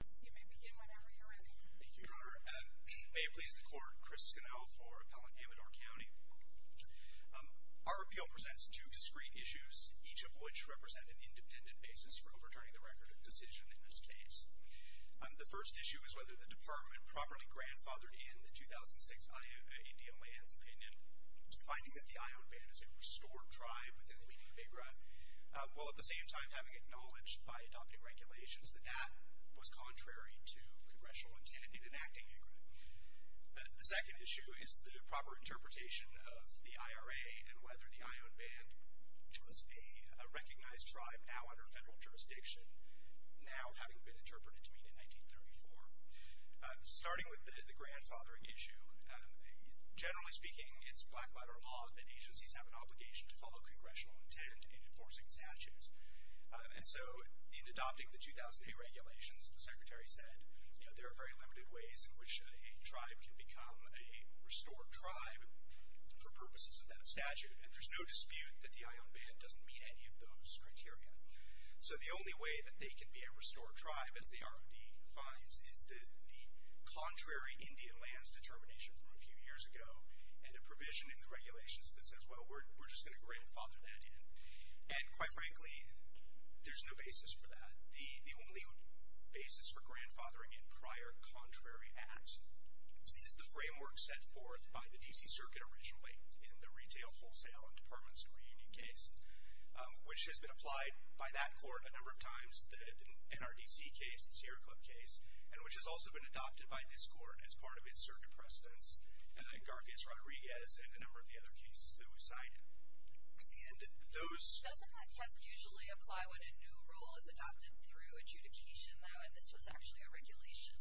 You may begin whenever you're ready. Thank you, Your Honor. May it please the Court, Chris Sconell for Appellant Amador County. Our appeal presents two discreet issues, each of which represent an independent basis for overturning the record of decision in this case. The first issue is whether the department properly grandfathered in the 2006 I.O.D.O. land's opinion, finding that the I.O.D. band is a restored tribe within the Weekend Big Run, while at the same time having acknowledged by adopting regulations that that was contrary to congressional intent in enacting the agreement. The second issue is the proper interpretation of the IRA and whether the I.O.D. band was a recognized tribe now under federal jurisdiction, now having been interpreted to mean in 1934. Starting with the grandfathering issue, generally speaking, it's black-letter law that agencies have an obligation to follow congressional intent in enforcing statutes, and so in adopting the 2008 regulations, the Secretary said, you know, there are very limited ways in which a tribe can become a restored tribe for purposes of that statute, and there's no dispute that the I.O.D. band doesn't meet any of those criteria. So the only way that they can be a restored tribe, as the I.O.D. defines, is the contrary Indian land's determination from a few years ago and a provision in the regulations that says, well, we're just going to grandfather that in. And quite frankly, there's no basis for that. The only basis for grandfathering in prior contrary acts is the framework set forth by the D.C. Circuit originally in the Retail, Wholesale, and Departments of Reunion case, which has been applied by that court a number of times, the NRDC case, the Sierra Club case, and which has also been adopted by this court as part of its circuit precedents, Garfield's Rodriguez, and a number of the other cases that we cited. And those... Doesn't that test usually apply when a new rule is adopted through adjudication, though, and this was actually a regulation?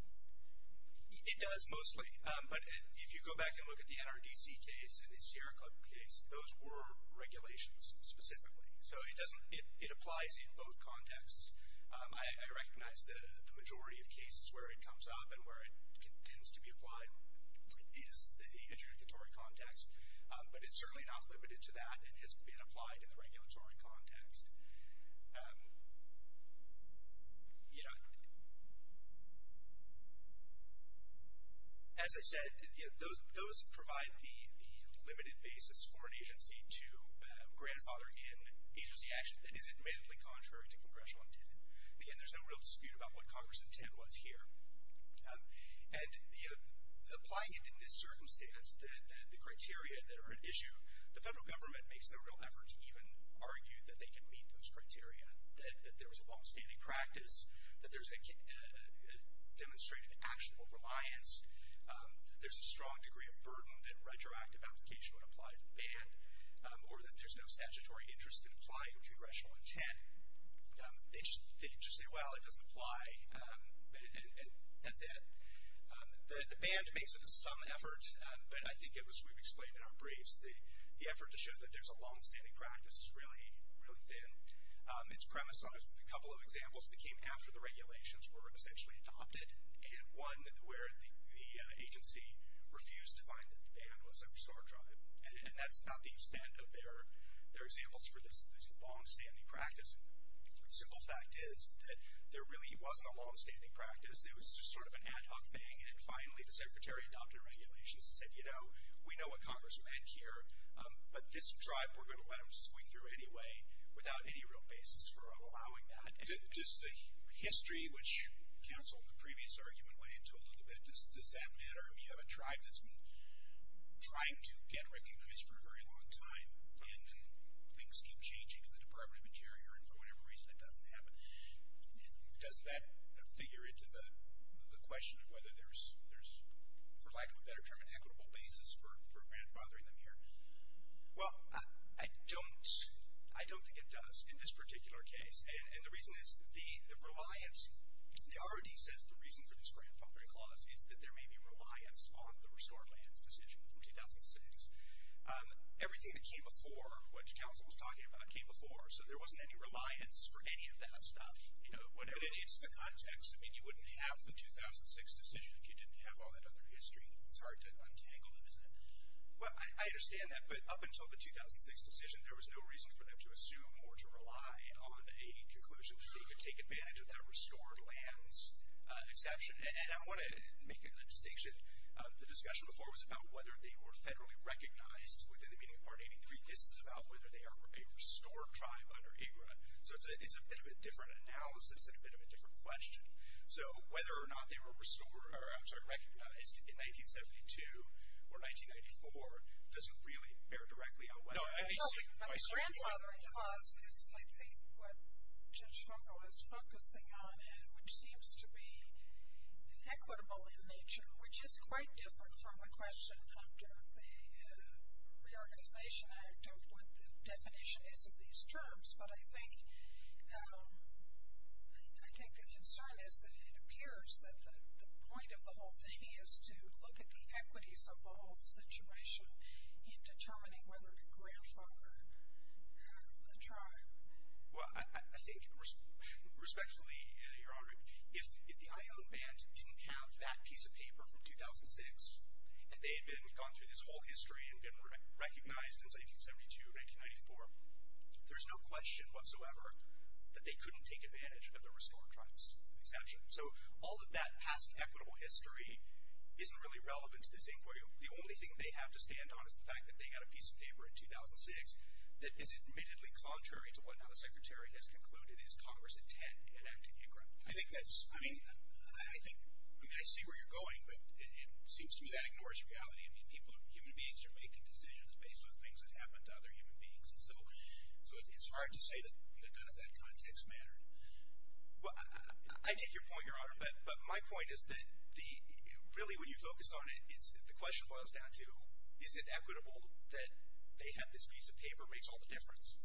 It does, mostly. But if you go back and look at the NRDC case and the Sierra Club case, those were regulations specifically. So it applies in both contexts. I recognize that the majority of cases where it comes up and where it tends to be applied, is the adjudicatory context, but it's certainly not limited to that and has been applied in the regulatory context. As I said, those provide the limited basis for an agency to grandfather in agency action that is admittedly contrary to Congressional intent. Again, there's no real dispute about what Congress's intent was here. And applying it in this circumstance, the criteria that are at issue, the federal government makes no real effort to even argue that they can meet those criteria, that there is a longstanding practice, that there's a demonstrated actionable reliance, that there's a strong degree of burden, that retroactive application would apply to the band, or that there's no statutory interest in applying Congressional intent. They just say, well, it doesn't apply, and that's it. The band makes some effort, but I think as we've explained in our briefs, the effort to show that there's a longstanding practice is really thin. It's premised on a couple of examples that came after the regulations were essentially adopted, and one where the agency refused to find that the band was over star drive. And that's not the extent of their examples for this longstanding practice. The simple fact is that there really wasn't a longstanding practice. It was just sort of an ad hoc thing, and then finally the secretary adopted regulations and said, you know, we know what Congress meant here, but this tribe we're going to let them squeak through anyway without any real basis for allowing that. Just the history, which counseled the previous argument, went into a little bit. Does that matter? I mean, you have a tribe that's been trying to get recognized for a very long time, and things keep changing to the deprivative injury, or for whatever reason it doesn't happen. Does that figure into the question of whether there's, for lack of a better term, an equitable basis for grandfathering them here? Well, I don't think it does in this particular case, and the reason is the reliance. The ROD says the reason for this grandfathering clause is that there may be reliance on the restored lands decision from 2006. Everything that came before, which counsel was talking about, came before, so there wasn't any reliance for any of that stuff. But in its context, I mean, you wouldn't have the 2006 decision if you didn't have all that other history. It's hard to untangle them, isn't it? Well, I understand that, but up until the 2006 decision, there was no reason for them to assume or to rely on a conclusion. They could take advantage of that restored lands exception. And I want to make a distinction. The discussion before was about whether they were federally recognized within the meaning of Part 83. This is about whether they are a restored tribe under AGRA. So it's a bit of a different analysis and a bit of a different question. So whether or not they were recognized in 1972 or 1994 doesn't really bear directly on whether. The grandfathering clause is, I think, what Judge Fogle is focusing on and which seems to be equitable in nature, which is quite different from the question under the Reorganization Act of what the definition is of these terms. But I think the concern is that it appears that the point of the whole thing is to look at the equities of the whole situation in determining whether to grandfather a tribe. Well, I think, respectfully, Your Honor, if the Iowne Band didn't have that piece of paper from 2006 and they had gone through this whole history and been recognized in 1972 or 1994, there's no question whatsoever that they couldn't take advantage of the restored tribes exception. So all of that past equitable history isn't really relevant to this inquiry. The only thing they have to stand on is the fact that they got a piece of paper in 2006 that is admittedly contrary to what now the Secretary has concluded is Congress intent in enacting AGRA. I think that's, I mean, I think, I mean, I see where you're going, but it seems to me that ignores reality. I mean, people, human beings are making decisions based on things that happened to other human beings. And so it's hard to say that none of that context mattered. Well, I take your point, Your Honor, but my point is that the, really, when you focus on it, the question boils down to is it equitable that they have this piece of paper makes all the difference?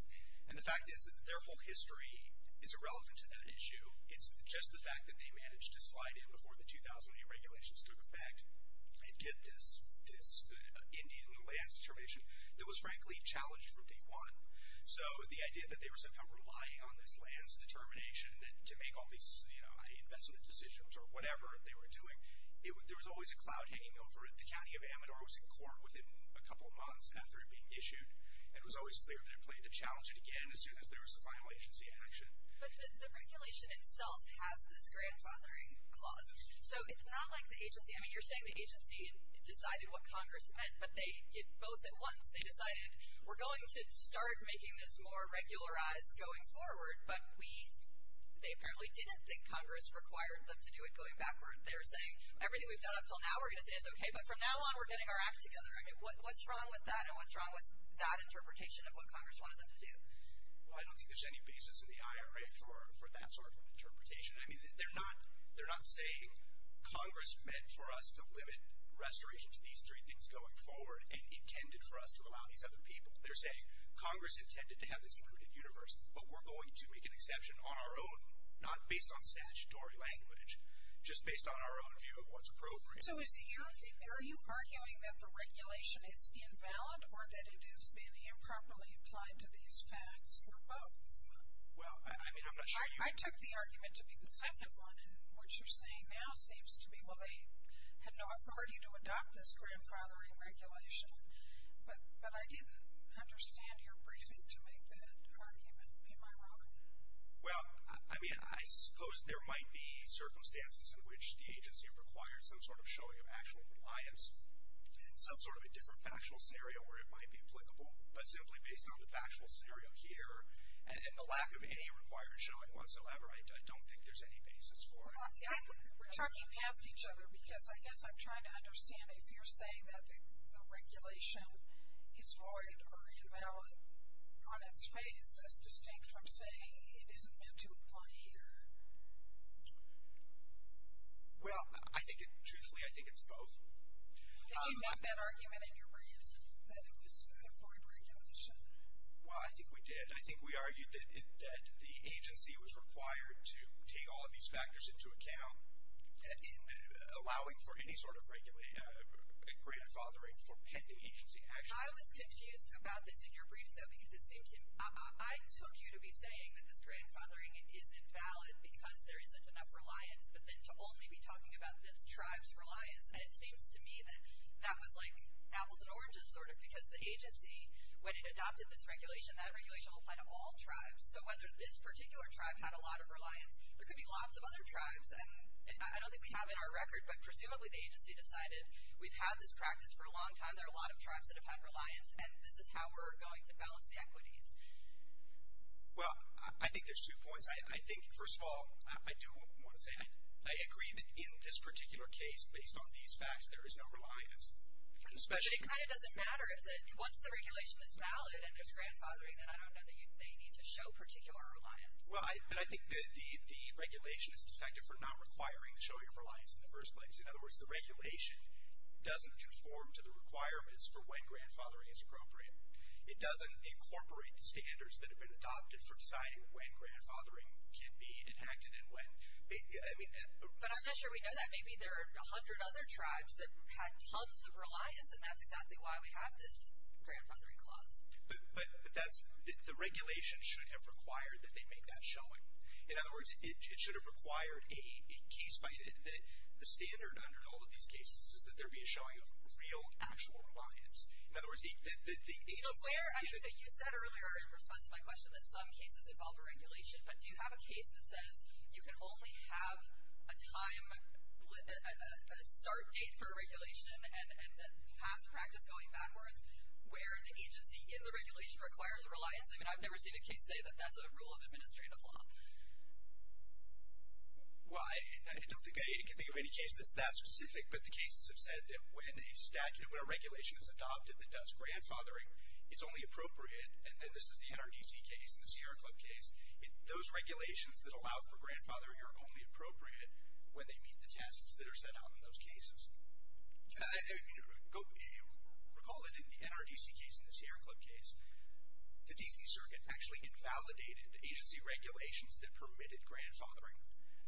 And the fact is that their whole history is irrelevant to that issue. It's just the fact that they managed to slide in before the 2008 regulations took effect and get this Indian lands determination that was, frankly, challenged from day one. So the idea that they were somehow relying on this lands determination to make all these, you know, investment decisions or whatever they were doing, there was always a cloud hanging over it. The county of Amador was in court within a couple of months after it being issued, and it was always clear that it played to challenge it again as soon as there was a final agency action. But the regulation itself has this grandfathering clause. So it's not like the agency, I mean, you're saying the agency decided what Congress meant, but they did both at once. They decided we're going to start making this more regularized going forward, but they apparently didn't think Congress required them to do it going backward. They were saying everything we've done up until now we're going to say is okay, but from now on we're getting our act together. I mean, what's wrong with that and what's wrong with that interpretation of what Congress wanted them to do? Well, I don't think there's any basis in the IRA for that sort of interpretation. I mean, they're not saying Congress meant for us to limit restoration to these three things going forward and intended for us to allow these other people. They're saying Congress intended to have this included universe, but we're going to make an exception on our own, not based on statutory language, just based on our own view of what's appropriate. So are you arguing that the regulation is invalid or that it has been improperly applied to these facts or both? Well, I mean, I'm not sure. I took the argument to be the second one, and what you're saying now seems to me, well, they had no authority to adopt this grandfathering regulation, but I didn't understand your briefing to make that argument. Am I wrong? Well, I mean, I suppose there might be circumstances in which the agency have required some sort of showing of actual compliance in some sort of a different factual scenario where it might be applicable, but simply based on the factual scenario here and the lack of any required showing whatsoever, I don't think there's any basis for it. We're talking past each other because I guess I'm trying to understand if you're saying that the regulation is void or invalid on its face as distinct from saying it isn't meant to apply here. Well, truthfully, I think it's both. Did you make that argument in your brief that it was a void regulation? Well, I think we did. I think we argued that the agency was required to take all of these factors into account in allowing for any sort of grandfathering for pending agency action. I was confused about this in your brief, though, because it seemed to me, I took you to be saying that this grandfathering is invalid because there isn't enough reliance, but then to only be talking about this tribe's reliance, and it seems to me that that was like apples and oranges sort of because the agency, when it adopted this regulation, that regulation will apply to all tribes. So whether this particular tribe had a lot of reliance, there could be lots of other tribes, and I don't think we have in our record, but presumably the agency decided we've had this practice for a long time. There are a lot of tribes that have had reliance, and this is how we're going to balance the equities. Well, I think there's two points. I think, first of all, I do want to say I agree that in this particular case, based on these facts, there is no reliance. But it kind of doesn't matter. Once the regulation is valid and there's grandfathering, then I don't know that they need to show particular reliance. Well, and I think the regulation is effective for not requiring the showing of reliance in the first place. In other words, the regulation doesn't conform to the requirements for when grandfathering is appropriate. It doesn't incorporate the standards that have been adopted for deciding when grandfathering can be enacted and when. But I'm not sure we know that. Maybe there are 100 other tribes that had tons of reliance, and that's exactly why we have this grandfathering clause. But that's, the regulation should have required that they make that showing. In other words, it should have required a case by, the standard under all of these cases is that there be a showing of real, actual reliance. In other words, the agency... But where, I mean, so you said earlier in response to my question that some cases involve a regulation. But do you have a case that says you can only have a time, a start date for a regulation, and a past practice going backwards where the agency in the regulation requires reliance? I mean, I've never seen a case say that that's a rule of administrative law. Well, I don't think I can think of any case that's that specific. But the cases have said that when a statute, when a regulation is adopted that does grandfathering, it's only appropriate, and this is the NRDC case and the Sierra Club case, those regulations that allow for grandfathering are only appropriate when they meet the tests that are set out in those cases. Recall that in the NRDC case and the Sierra Club case, the D.C. Circuit actually invalidated agency regulations that permitted grandfathering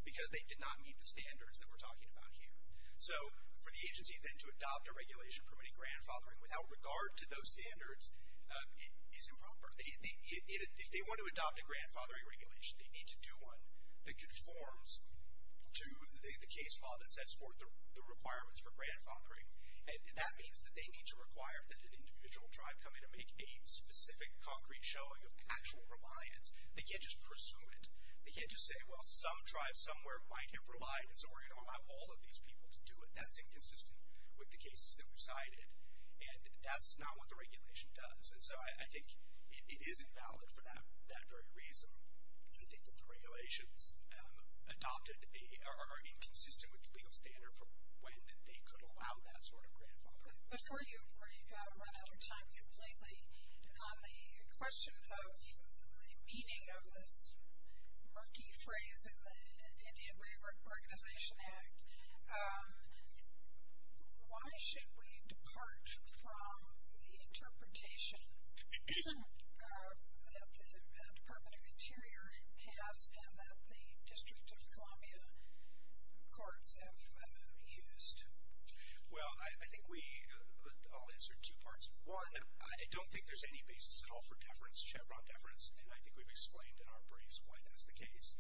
because they did not meet the standards that we're talking about here. So for the agency then to adopt a regulation permitting grandfathering without regard to those standards is improper. If they want to adopt a grandfathering regulation, they need to do one that conforms to the case law that sets forth the requirements for grandfathering. And that means that they need to require that an individual tribe come in and make a specific concrete showing of actual reliance. They can't just pursue it. They can't just say, well, some tribe somewhere might have relied, and so we're going to allow all of these people to do it. That's inconsistent with the cases that we cited, and that's not what the regulation does. And so I think it is invalid for that very reason. I think that the regulations adopted are inconsistent with the legal standard for when they could allow that sort of grandfathering. Before you run out of time completely, on the question of the meaning of this murky phrase in the Indian Reorganization Act, why should we depart from the interpretation that the Department of Interior has and that the District of Columbia courts have used? Well, I think we all answered two parts. One, I don't think there's any basis at all for deference, Chevron deference, and I think we've explained in our briefs why that's the case.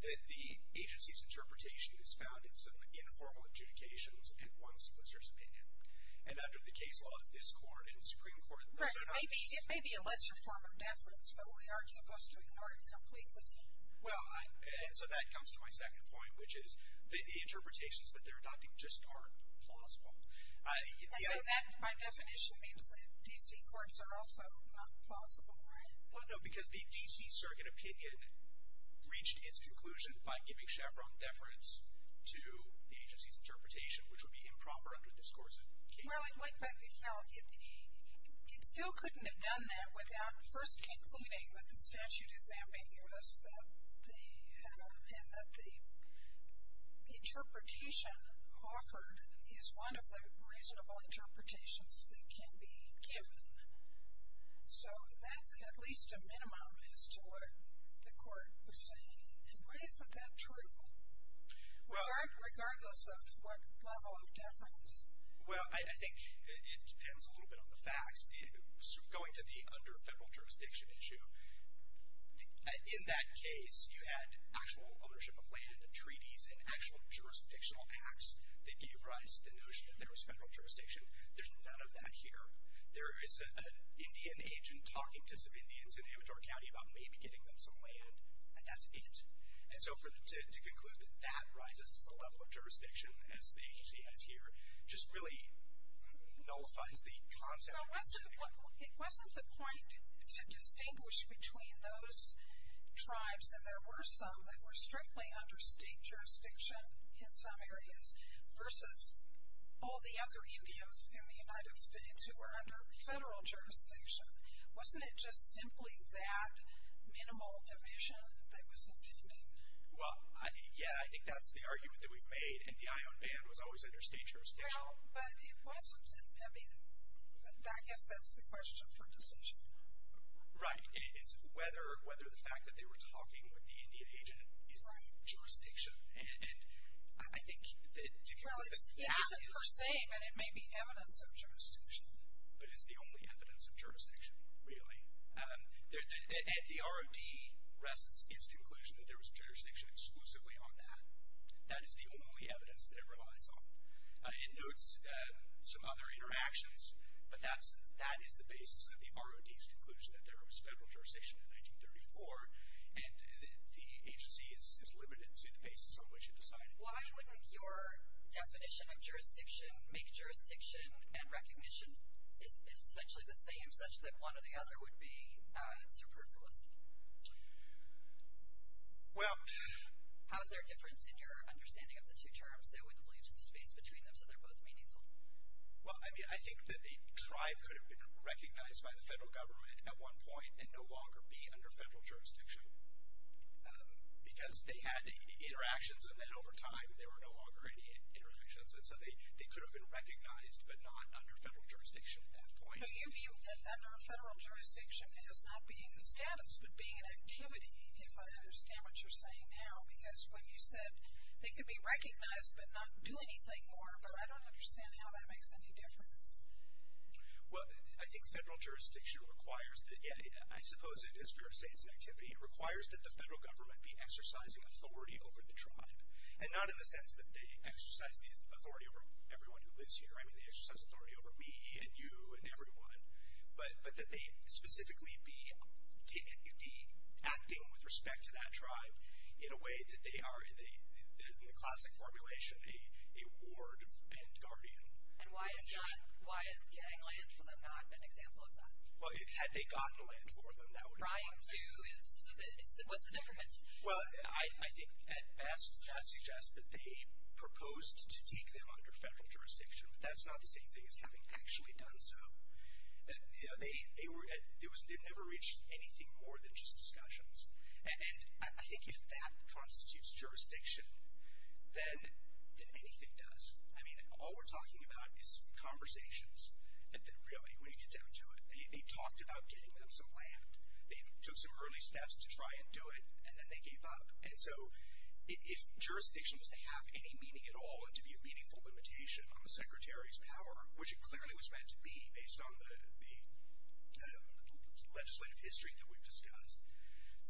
The agency's interpretation is found in some informal adjudications and one solicitor's opinion. And under the case law of this court and the Supreme Court, those are not the cases. Right, it may be a lesser form of deference, but we aren't supposed to ignore it completely. Well, and so that comes to my second point, which is the interpretations that they're adopting just aren't plausible. And so that, by definition, means that D.C. courts are also not plausible, right? Well, no, because the D.C. Circuit opinion reached its conclusion by giving Chevron deference to the agency's interpretation, which would be improper under this court's case law. Well, but, you know, it still couldn't have done that without first concluding that the statute is ambiguous and that the interpretation offered is one of the reasonable interpretations that can be given. So that's at least a minimum as to what the court was saying. And why isn't that true, regardless of what level of deference? Well, I think it depends a little bit on the facts. Going to the under-federal jurisdiction issue, in that case, you had actual ownership of land, treaties, and actual jurisdictional acts that gave rise to the notion that there was federal jurisdiction. There's none of that here. There is an Indian agent talking to some Indians in Amador County about maybe getting them some land, and that's it. And so to conclude that that rises to the level of jurisdiction, as the agency has here, just really nullifies the concept. So it wasn't the point to distinguish between those tribes, and there were some, that were strictly under state jurisdiction in some areas, versus all the other Indians in the United States who were under federal jurisdiction. Wasn't it just simply that minimal division that was intending? Well, yeah, I think that's the argument that we've made, and the ion ban was always under state jurisdiction. Well, but it wasn't, I mean, I guess that's the question for decision. Right. It's whether the fact that they were talking with the Indian agent is jurisdiction. And I think that to conclude that that is. Well, it isn't per se, but it may be evidence of jurisdiction. But it's the only evidence of jurisdiction, really. The ROD rests its conclusion that there was jurisdiction exclusively on that. That is the only evidence that it relies on. It notes some other interactions, but that is the basis of the ROD's conclusion that there was federal jurisdiction in 1934, and the agency is limited to the basis on which it decided. Why wouldn't your definition of jurisdiction make jurisdiction and recognition essentially the same, such that one or the other would be superfluous? Well. How is there a difference in your understanding of the two terms that would leave some space between them so they're both meaningful? Well, I mean, I think that a tribe could have been recognized by the federal government at one point and no longer be under federal jurisdiction because they had interactions, and then over time there were no longer any interactions. And so they could have been recognized but not under federal jurisdiction at that point. So you view that under federal jurisdiction as not being the status but being an activity, if I understand what you're saying now. Because when you said they could be recognized but not do anything more, I don't understand how that makes any difference. Well, I think federal jurisdiction requires that, yeah, I suppose it is fair to say it's an activity. It requires that the federal government be exercising authority over the tribe, and not in the sense that they exercise the authority over everyone who lives here. I mean, they exercise authority over me and you and everyone, but that they specifically be acting with respect to that tribe in a way that they are, in the classic formulation, a ward and guardian. And why is getting land for them not an example of that? Well, had they gotten the land for them, that would have been an example. Trying to is a bit, what's the difference? Well, I think at best that suggests that they proposed to take them under federal jurisdiction, but that's not the same thing as having actually done so. They never reached anything more than just discussions. And I think if that constitutes jurisdiction, then anything does. I mean, all we're talking about is conversations. And really, when you get down to it, they talked about getting them some land. They took some early steps to try and do it, and then they gave up. And so if jurisdiction was to have any meaning at all and to be a meaningful limitation on the Secretary's power, which it clearly was meant to be based on the legislative history that we've discussed,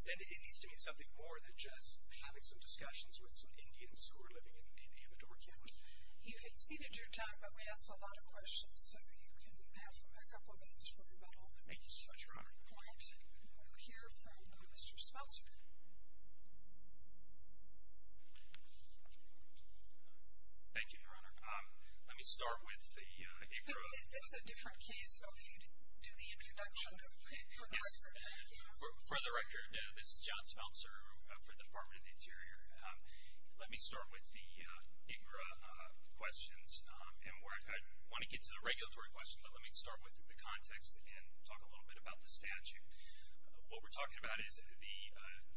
then it needs to mean something more than just having some discussions with some Indians who are living in Amador County. You've exceeded your time, but we asked a lot of questions, so you can have a couple of minutes for rebuttal. Thank you so much for honoring the point. We'll hear from Mr. Speltzer. Thank you for honoring it. Let me start with the APRA. This is a different case, so if you could do the introduction for the record. For the record, this is John Speltzer for the Department of the Interior. Let me start with the APRA questions. I want to get to the regulatory question, but let me start with the context and talk a little bit about the statute. What we're talking about is the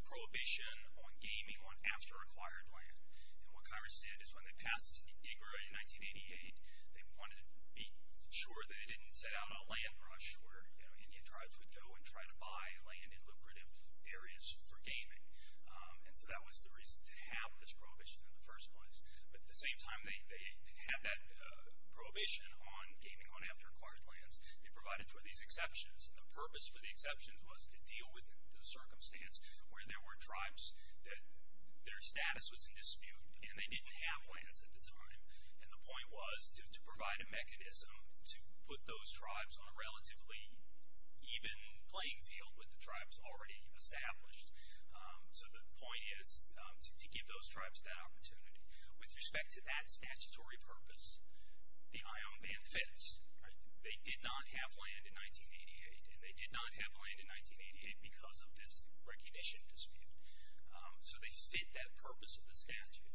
prohibition on gaming on after-acquired land. And what Congress did is when they passed IGRA in 1988, they wanted to be sure they didn't set out on a land rush where Indian tribes would go and try to buy land in lucrative areas for gaming. And so that was the reason to have this prohibition in the first place. But at the same time, they had that prohibition on gaming on after-acquired lands. They provided for these exceptions, and the purpose for the exceptions was to deal with the circumstance where there were tribes that their status was in dispute, and they didn't have lands at the time. And the point was to provide a mechanism to put those tribes on a relatively even playing field with the tribes already established. So the point is to give those tribes that opportunity. With respect to that statutory purpose, the IOM ban fits. They did not have land in 1988, and they did not have land in 1988 because of this recognition dispute. So they fit that purpose of the statute.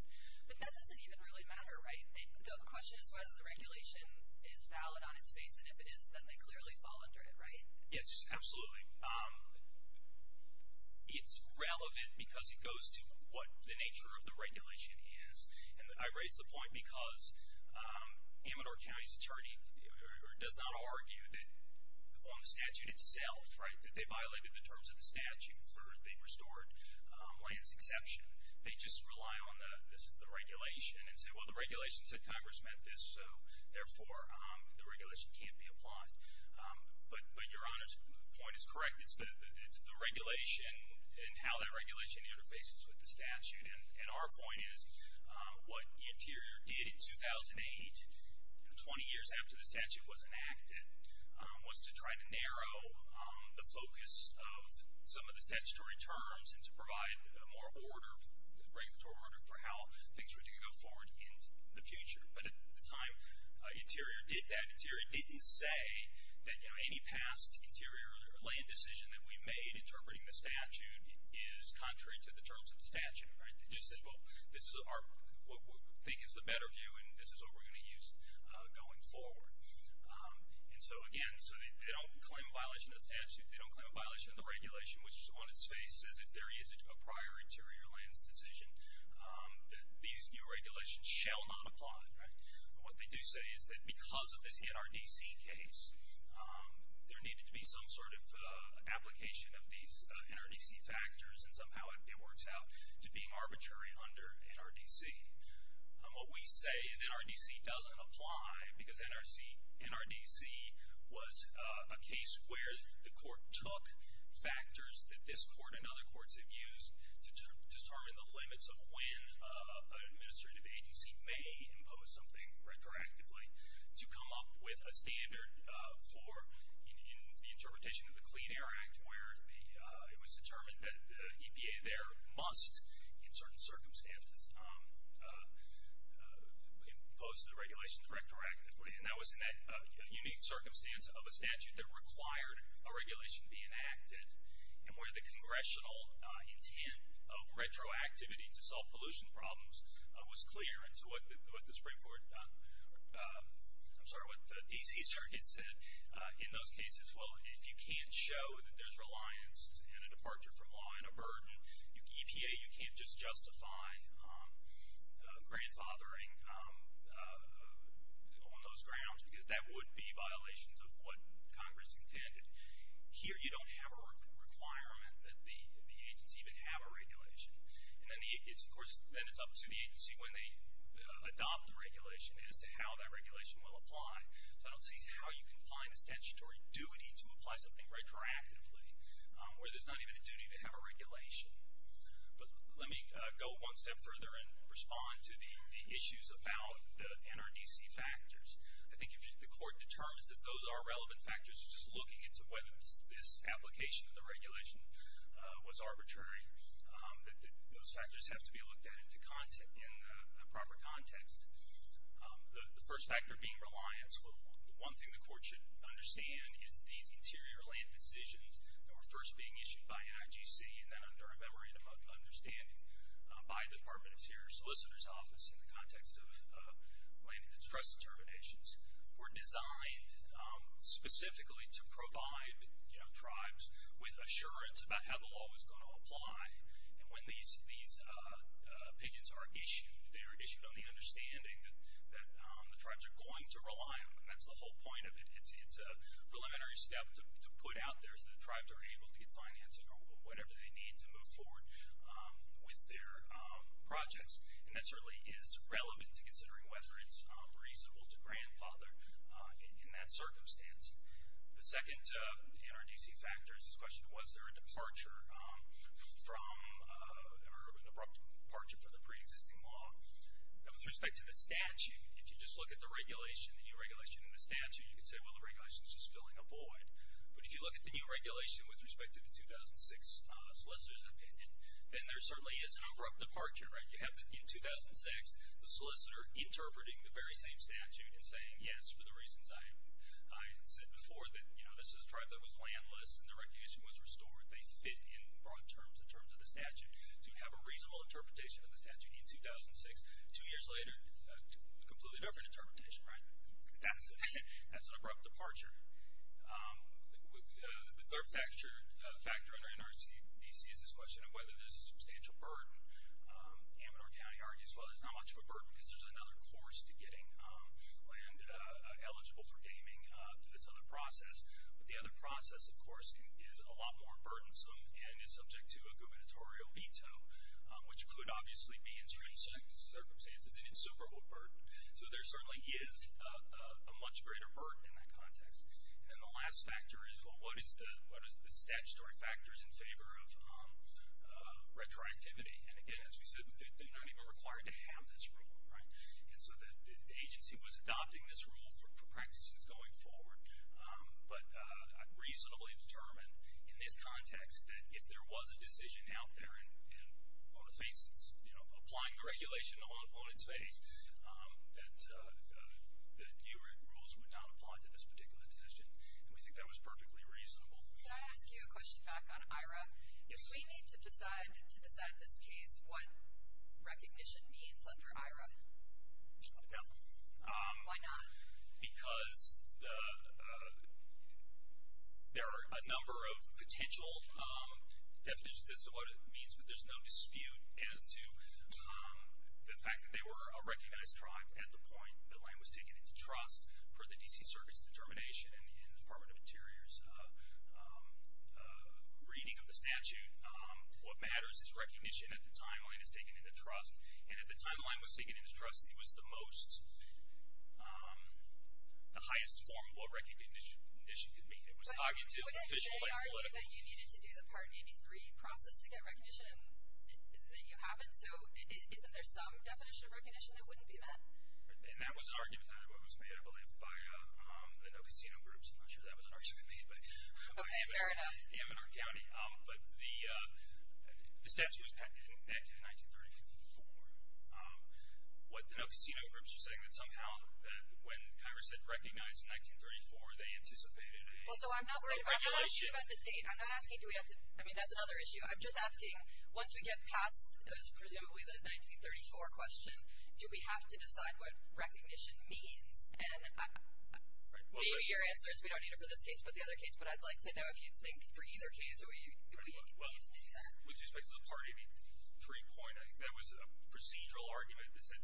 But that doesn't even really matter, right? The question is whether the regulation is valid on its face, and if it isn't, then they clearly fall under it, right? Yes, absolutely. It's relevant because it goes to what the nature of the regulation is. And I raise the point because Amador County's attorney does not argue that on the statute itself, right, that they violated the terms of the statute for they restored lands exception. They just rely on the regulation and say, well, the regulation said Congress met this, so therefore the regulation can't be applied. But Your Honor's point is correct. It's the regulation and how that regulation interfaces with the statute. And our point is what Interior did in 2008, 20 years after the statute was enacted, was to try to narrow the focus of some of the statutory terms and to provide more order, regulatory order, for how things were to go forward in the future. But at the time Interior did that, Interior didn't say that any past Interior land decision that we made interpreting the statute is contrary to the terms of the statute, right? They just said, well, this is what we think is the better view, and this is what we're going to use going forward. And so, again, so they don't claim a violation of the statute. They don't claim a violation of the regulation, which on its face says that there is a prior Interior lands decision that these new regulations shall not apply. But what they do say is that because of this NRDC case, there needed to be some sort of application of these NRDC factors, and somehow it works out to being arbitrary under NRDC. What we say is NRDC doesn't apply because NRDC was a case where the court took factors that this court and other courts have used to determine the limits of when an administrative agency may impose something retroactively to come up with a standard for the interpretation of the Clean Air Act, where it was determined that EPA there must, in certain circumstances, impose the regulations retroactively. And that was in that unique circumstance of a statute that required a regulation to be enacted and where the congressional intent of retroactivity to solve pollution problems was clear. And so what the Supreme Court, I'm sorry, what the D.C. Circuit said in those cases, well, if you can't show that there's reliance and a departure from law and a burden, EPA, you can't just justify grandfathering on those grounds because that would be violations of what Congress intended. Here you don't have a requirement that the agency even have a regulation. And then, of course, then it's up to the agency when they adopt the regulation as to how that regulation will apply. So I don't see how you can find a statutory duty to apply something retroactively where there's not even a duty to have a regulation. But let me go one step further and respond to the issues about the NRDC factors. I think if the court determines that those are relevant factors, just looking into whether this application of the regulation was arbitrary, that those factors have to be looked at in the proper context. The first factor being reliance. One thing the court should understand is these interior land decisions that were first being issued by NIGC and then under a memorandum of understanding by the Department of Interior Solicitor's Office in the context of land and distress determinations were designed specifically to provide tribes with assurance about how the law was going to apply. And when these opinions are issued, they are issued on the understanding that the tribes are going to rely on them. That's the whole point of it. It's a preliminary step to put out there so the tribes are able to get financing or whatever they need to move forward with their projects. And that certainly is relevant to considering whether it's reasonable to grandfather in that circumstance. The second NRDC factor is this question, was there a departure from or an abrupt departure from the preexisting law? Now, with respect to the statute, if you just look at the regulation, the new regulation in the statute, you could say, well, the regulation is just filling a void. But if you look at the new regulation with respect to the 2006 solicitor's opinion, then there certainly is an abrupt departure, right? You have in 2006 the solicitor interpreting the very same statute and saying, yes, for the reasons I had said before, that, you know, this is a tribe that was landless and the recognition was restored. They fit in broad terms in terms of the statute. So you have a reasonable interpretation of the statute in 2006. Two years later, a completely different interpretation, right? That's an abrupt departure. The third factor under NRDC is this question of whether there's substantial burden. Amador County argues, well, there's not much of a burden because there's another course to getting land eligible for gaming through this other process. But the other process, of course, is a lot more burdensome and is subject to a gubernatorial veto, which could obviously be, in certain circumstances, an insuperable burden. So there certainly is a much greater burden in that context. And then the last factor is, well, what is the statutory factors in favor of retroactivity? And, again, as we said, they're not even required to have this rule, right? And so the agency was adopting this rule for practices going forward. But I'm reasonably determined in this context that if there was a decision out there and on the faces, you know, applying the regulation on its face, that the URIC rules would not apply to this particular decision. And we think that was perfectly reasonable. Can I ask you a question back on IRA? If we need to decide to decide this case, what recognition means under IRA? No. Why not? Because there are a number of potential definitions as to what it means, but there's no dispute as to the fact that they were a recognized tribe at the point that land was taken into trust for the D.C. Circuit's determination and the Department of Interior's reading of the statute. What matters is recognition at the timeline is taken into trust. And if the timeline was taken into trust, it was the most, the highest form of what recognition could mean. It was cognitive, official, and political. But wouldn't they argue that you needed to do the Part 83 process to get recognition that you haven't? So isn't there some definition of recognition that wouldn't be met? And that was an argument. It was made, I believe, by the No Casino groups. I'm not sure that was an argument made. Okay, fair enough. But the statute was patented in 1934. What the No Casino groups are saying is that somehow when Congress said recognize in 1934, they anticipated the regulation. Well, so I'm not worried about the date. I'm not asking do we have to, I mean, that's another issue. I'm just asking once we get past presumably the 1934 question, do we have to decide what recognition means? And maybe your answer is we don't need it for this case but the other case. But I'd like to know if you think for either case we need to do that. With respect to the Part 83 point, I think that was a procedural argument that said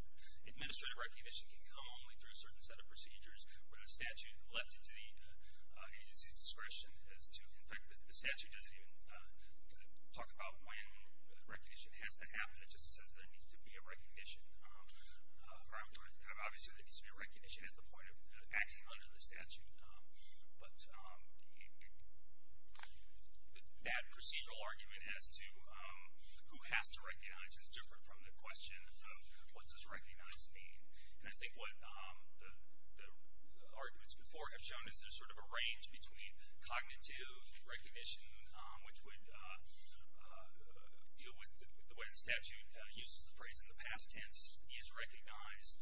administrative recognition can come only through a certain set of procedures when a statute left it to the agency's discretion as to, in fact, the statute doesn't even talk about when recognition has to happen. It just says there needs to be a recognition. Obviously, there needs to be a recognition at the point of acting under the statute. But that procedural argument as to who has to recognize is different from the question of what does recognize mean. And I think what the arguments before have shown is there's sort of a range between cognitive recognition, which would deal with the way the statute uses the phrase in the past tense, is recognized,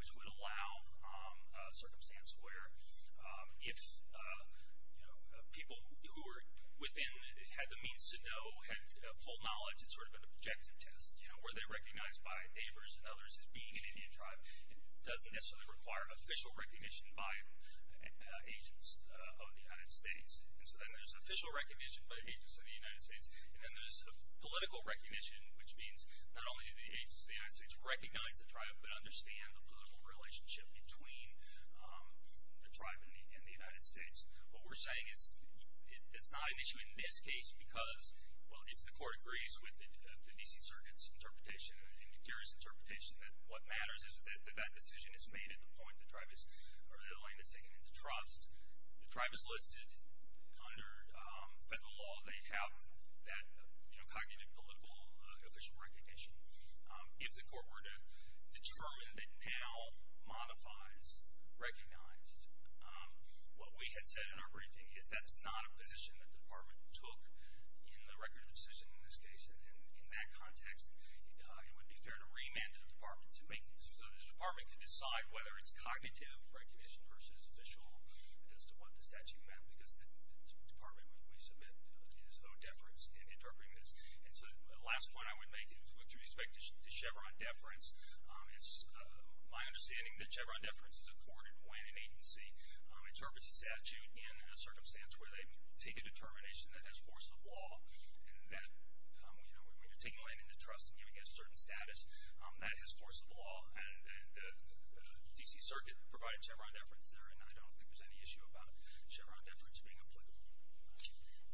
which would allow a circumstance where if, you know, people who were within had the means to know, had full knowledge, it's sort of an objective test, you know, were they recognized by neighbors and others as being an Indian tribe. It doesn't necessarily require official recognition by agents of the United States. And so then there's official recognition by agents of the United States. And then there's a political recognition, which means not only do the agents of the United States recognize the tribe, but understand the political relationship between the tribe and the United States. What we're saying is it's not an issue in this case because, well, if the court agrees with the D.C. Circuit's interpretation and the jury's interpretation, that what matters is that that decision is made at the point the tribe is or the land is taken into trust. The tribe is listed under federal law. They have that, you know, cognitive, political, official recognition. If the court were to determine that now modifies recognized, what we had said in our briefing is that's not a position that the department took in the record of decision in this case. And in that context, it would be fair to remand the department to make this. So the department can decide whether it's cognitive recognition versus official as to what the statute meant, because the department, we submit, is of no deference in interpreting this. And so the last point I would make with respect to Chevron deference, it's my understanding that Chevron deference is accorded when an agency interprets a statute in a circumstance where they take a determination that has force of law and that, you know, when you're taking a land into trust and giving it a certain status, that has force of law. And the D.C. Circuit provided Chevron deference there, and I don't think there's any issue about Chevron deference being applicable.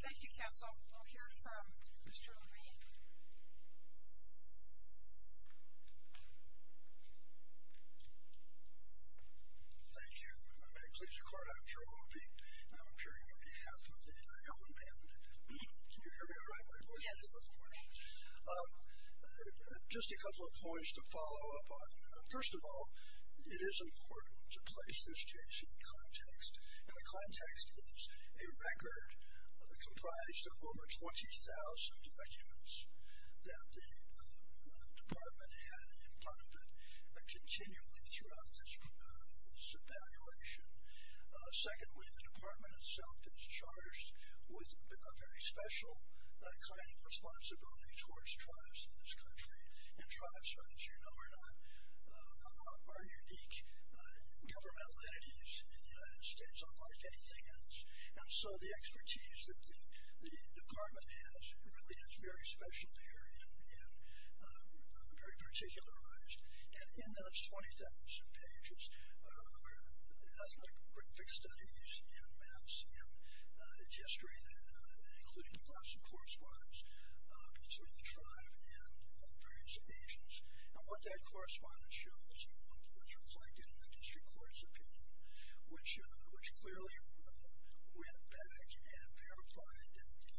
Thank you, counsel. We'll hear from Mr. Obey. Thank you. May it please the court, I'm Jerome Obey. I'm appearing on behalf of the iron band. Can you hear me all right? Yes. Just a couple of points to follow up on. First of all, it is important to place this case in context, and the context is a record comprised of over 20,000 documents that the department had in front of it continually throughout this evaluation. Secondly, the department itself is charged with a very special kind of responsibility towards tribes in this country. And tribes, as you know or not, are unique governmental entities in the United States, unlike anything else. And so the expertise that the department has really is very special here and very particularized. And in those 20,000 pages are ethnographic studies and maps and gesturing, including lots of correspondence between the tribe and various agents. And what that correspondence shows and what's reflected in the district court's opinion, which clearly went back and verified that the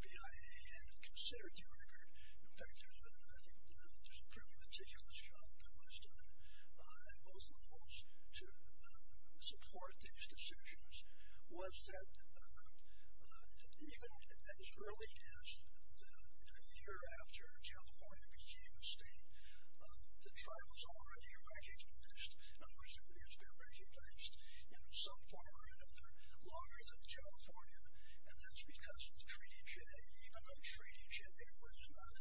BIA had considered the record. In fact, I think there's a pretty meticulous job that was done at both levels to support these decisions, was that even as early as the year after California became a state, the tribe was already recognized. In other words, it has been recognized in some form or another longer than California, and that's because of Treaty J. Even though Treaty J was not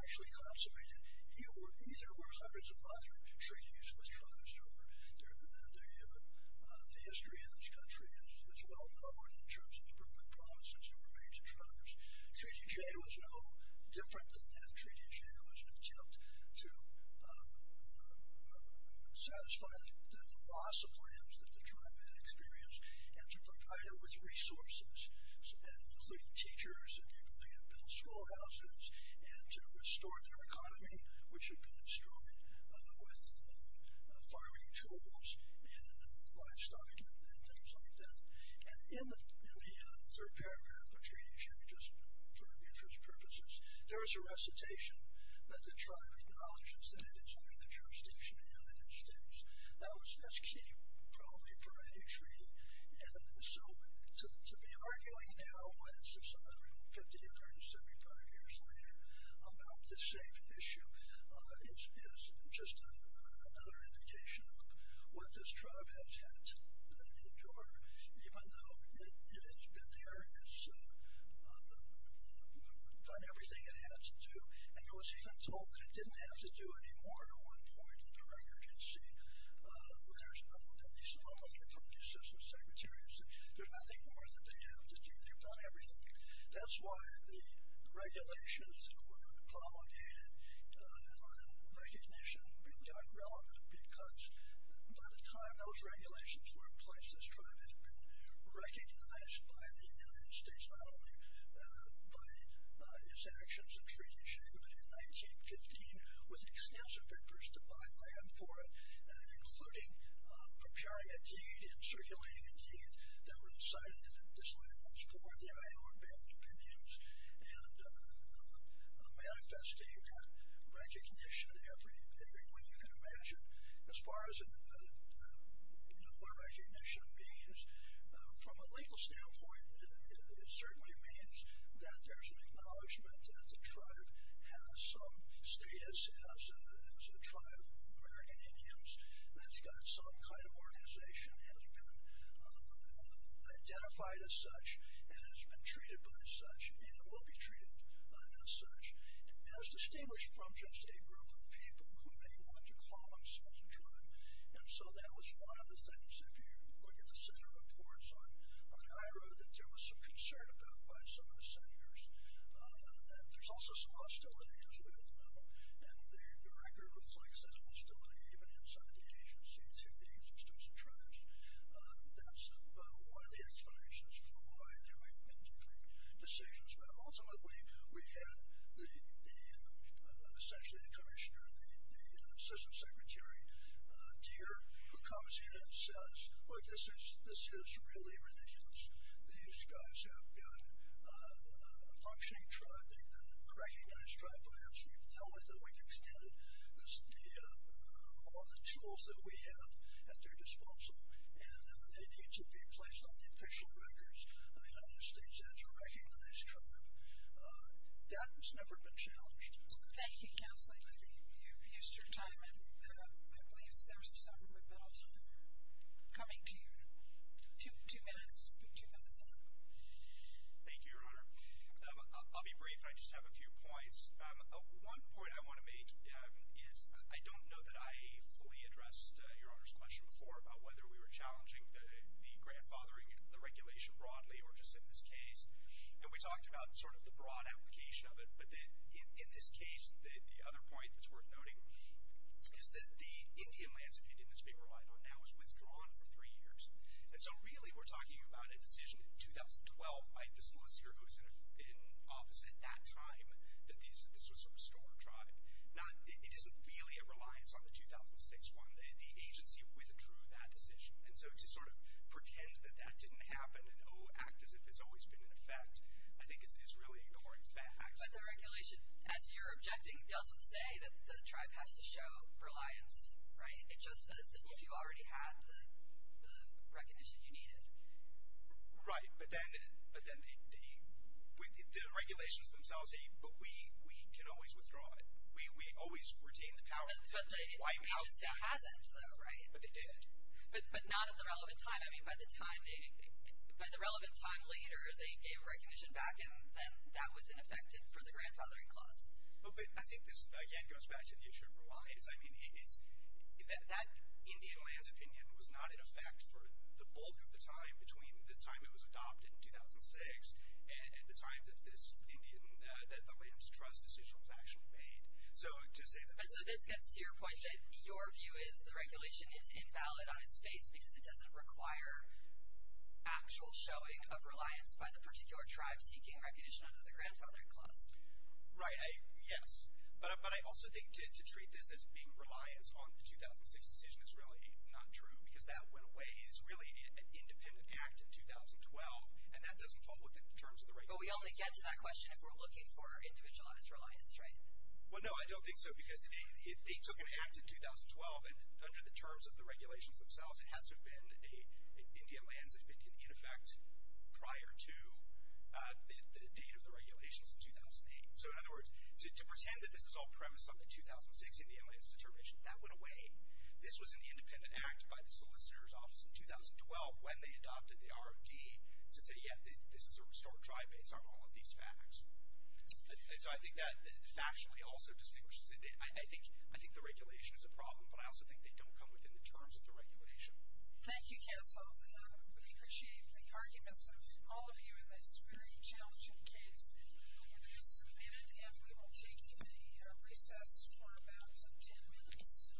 actually consummated, either were hundreds of other treaties with tribes. The history in this country is well known in terms of the broken promises that were made to tribes. Treaty J was no different than that. Treaty J was an attempt to satisfy the loss of lands that the tribe had experienced and to provide it with resources, including teachers and the ability to build schoolhouses and to restore their economy, which had been destroyed with farming tools and livestock and things like that. And in the third paragraph of Treaty J, just for interest purposes, there is a recitation that the tribe acknowledges that it is under the jurisdiction of the United States. Now, that's key probably for any treaty. And so to be arguing now, what is this, I don't know, 50, 175 years later, about this safe issue is just another indication of what this tribe has had to endure, even though it has been there, it's done everything it had to do, and it was even told that it didn't have to do any more at one point in the record. You can see letters of at least a hundred from the assistant secretaries that there's nothing more that they have to do. They've done everything. That's why the regulations that were promulgated on recognition became irrelevant because by the time those regulations were in place, this tribe had been recognized by the United States, not only by its actions in Treaty J, but in 1915 with extensive efforts to buy land for it, including preparing a deed and circulating a deed that recited that this land was for the Iowan Band of Indians and manifesting that recognition every way you can imagine. As far as what recognition means, from a legal standpoint, it certainly means that there's an acknowledgment that the tribe has some status as a tribe of American Indians, that's got some kind of organization, has been identified as such, and has been treated by such, and will be treated as such. It is distinguished from just a group of people who may want to call themselves a tribe, and so that was one of the things, if you look at the Senate reports on IHRA, that there was some concern about by some of the Senators. There's also some hostility, as we all know, and the record reflects that hostility even inside the agency to the existence of tribes. That's one of the explanations for why there may have been different decisions, but ultimately we had essentially the Commissioner, the Assistant Secretary, Deere, who comes in and says, look, this is really ridiculous. These guys have got a functioning tribe. They've been recognized tribe by us. We've told them we've extended all the tools that we have at their disposal, and they need to be placed on the official records of the United States as a recognized tribe. That has never been challenged. Thank you, Counselor. Thank you. You've used your time, and I believe there's some rebuttal time coming to you. Two minutes, two minutes left. Thank you, Your Honor. I'll be brief, and I just have a few points. One point I want to make is I don't know that I fully addressed Your Honor's question before about whether we were challenging the grandfathering and the regulation broadly or just in this case, and we talked about sort of the broad application of it, but in this case the other point that's worth noting is that the Indian lands opinion in this paper I don't know was withdrawn for three years. And so really we're talking about a decision in 2012 by the solicitor who was in office at that time that this was sort of stolen tribe. It isn't really a reliance on the 2006 one. The agency withdrew that decision. And so to sort of pretend that that didn't happen and, oh, act as if it's always been in effect, I think is really a corny fact. But the regulation, as you're objecting, doesn't say that the tribe has to show reliance, right? It just says that if you already had the recognition, you need it. Right. But then the regulations themselves say, but we can always withdraw it. We always retain the power to wipe out. But the agency hasn't, though, right? But they did. But not at the relevant time. I mean, by the time they ñ by the relevant time later they gave recognition back and then that was ineffective for the grandfathering clause. But I think this, again, goes back to the issue of reliance. I mean, that Indian lands opinion was not in effect for the bulk of the time between the time it was adopted in 2006 and the time that this Indian ñ that the lands trust decision was actually made. So to say that ñ But so this gets to your point that your view is the regulation is invalid on its face because it doesn't require actual showing of reliance by the particular tribe seeking recognition under the grandfathering clause. Right. Yes. But I also think to treat this as being reliance on the 2006 decision is really not true because that went away as really an independent act in 2012, and that doesn't fall within the terms of the regulations. But we only get to that question if we're looking for individualized reliance, right? Well, no, I don't think so because they took an act in 2012 and under the terms of the regulations themselves it has to have been a ñ Indian lands had been in effect prior to the date of the regulations in 2008. So in other words, to pretend that this is all premised on the 2006 Indian lands determination, that went away. This was an independent act by the solicitor's office in 2012 when they adopted the ROD to say, yeah, this is a restored tribe based on all of these facts. So I think that factually also distinguishes ñ I think the regulation is a problem, but I also think they don't come within the terms of the regulation. Thank you, Council. We appreciate the arguments of all of you in this very challenging case. It is submitted, and we will take a recess for about ten minutes.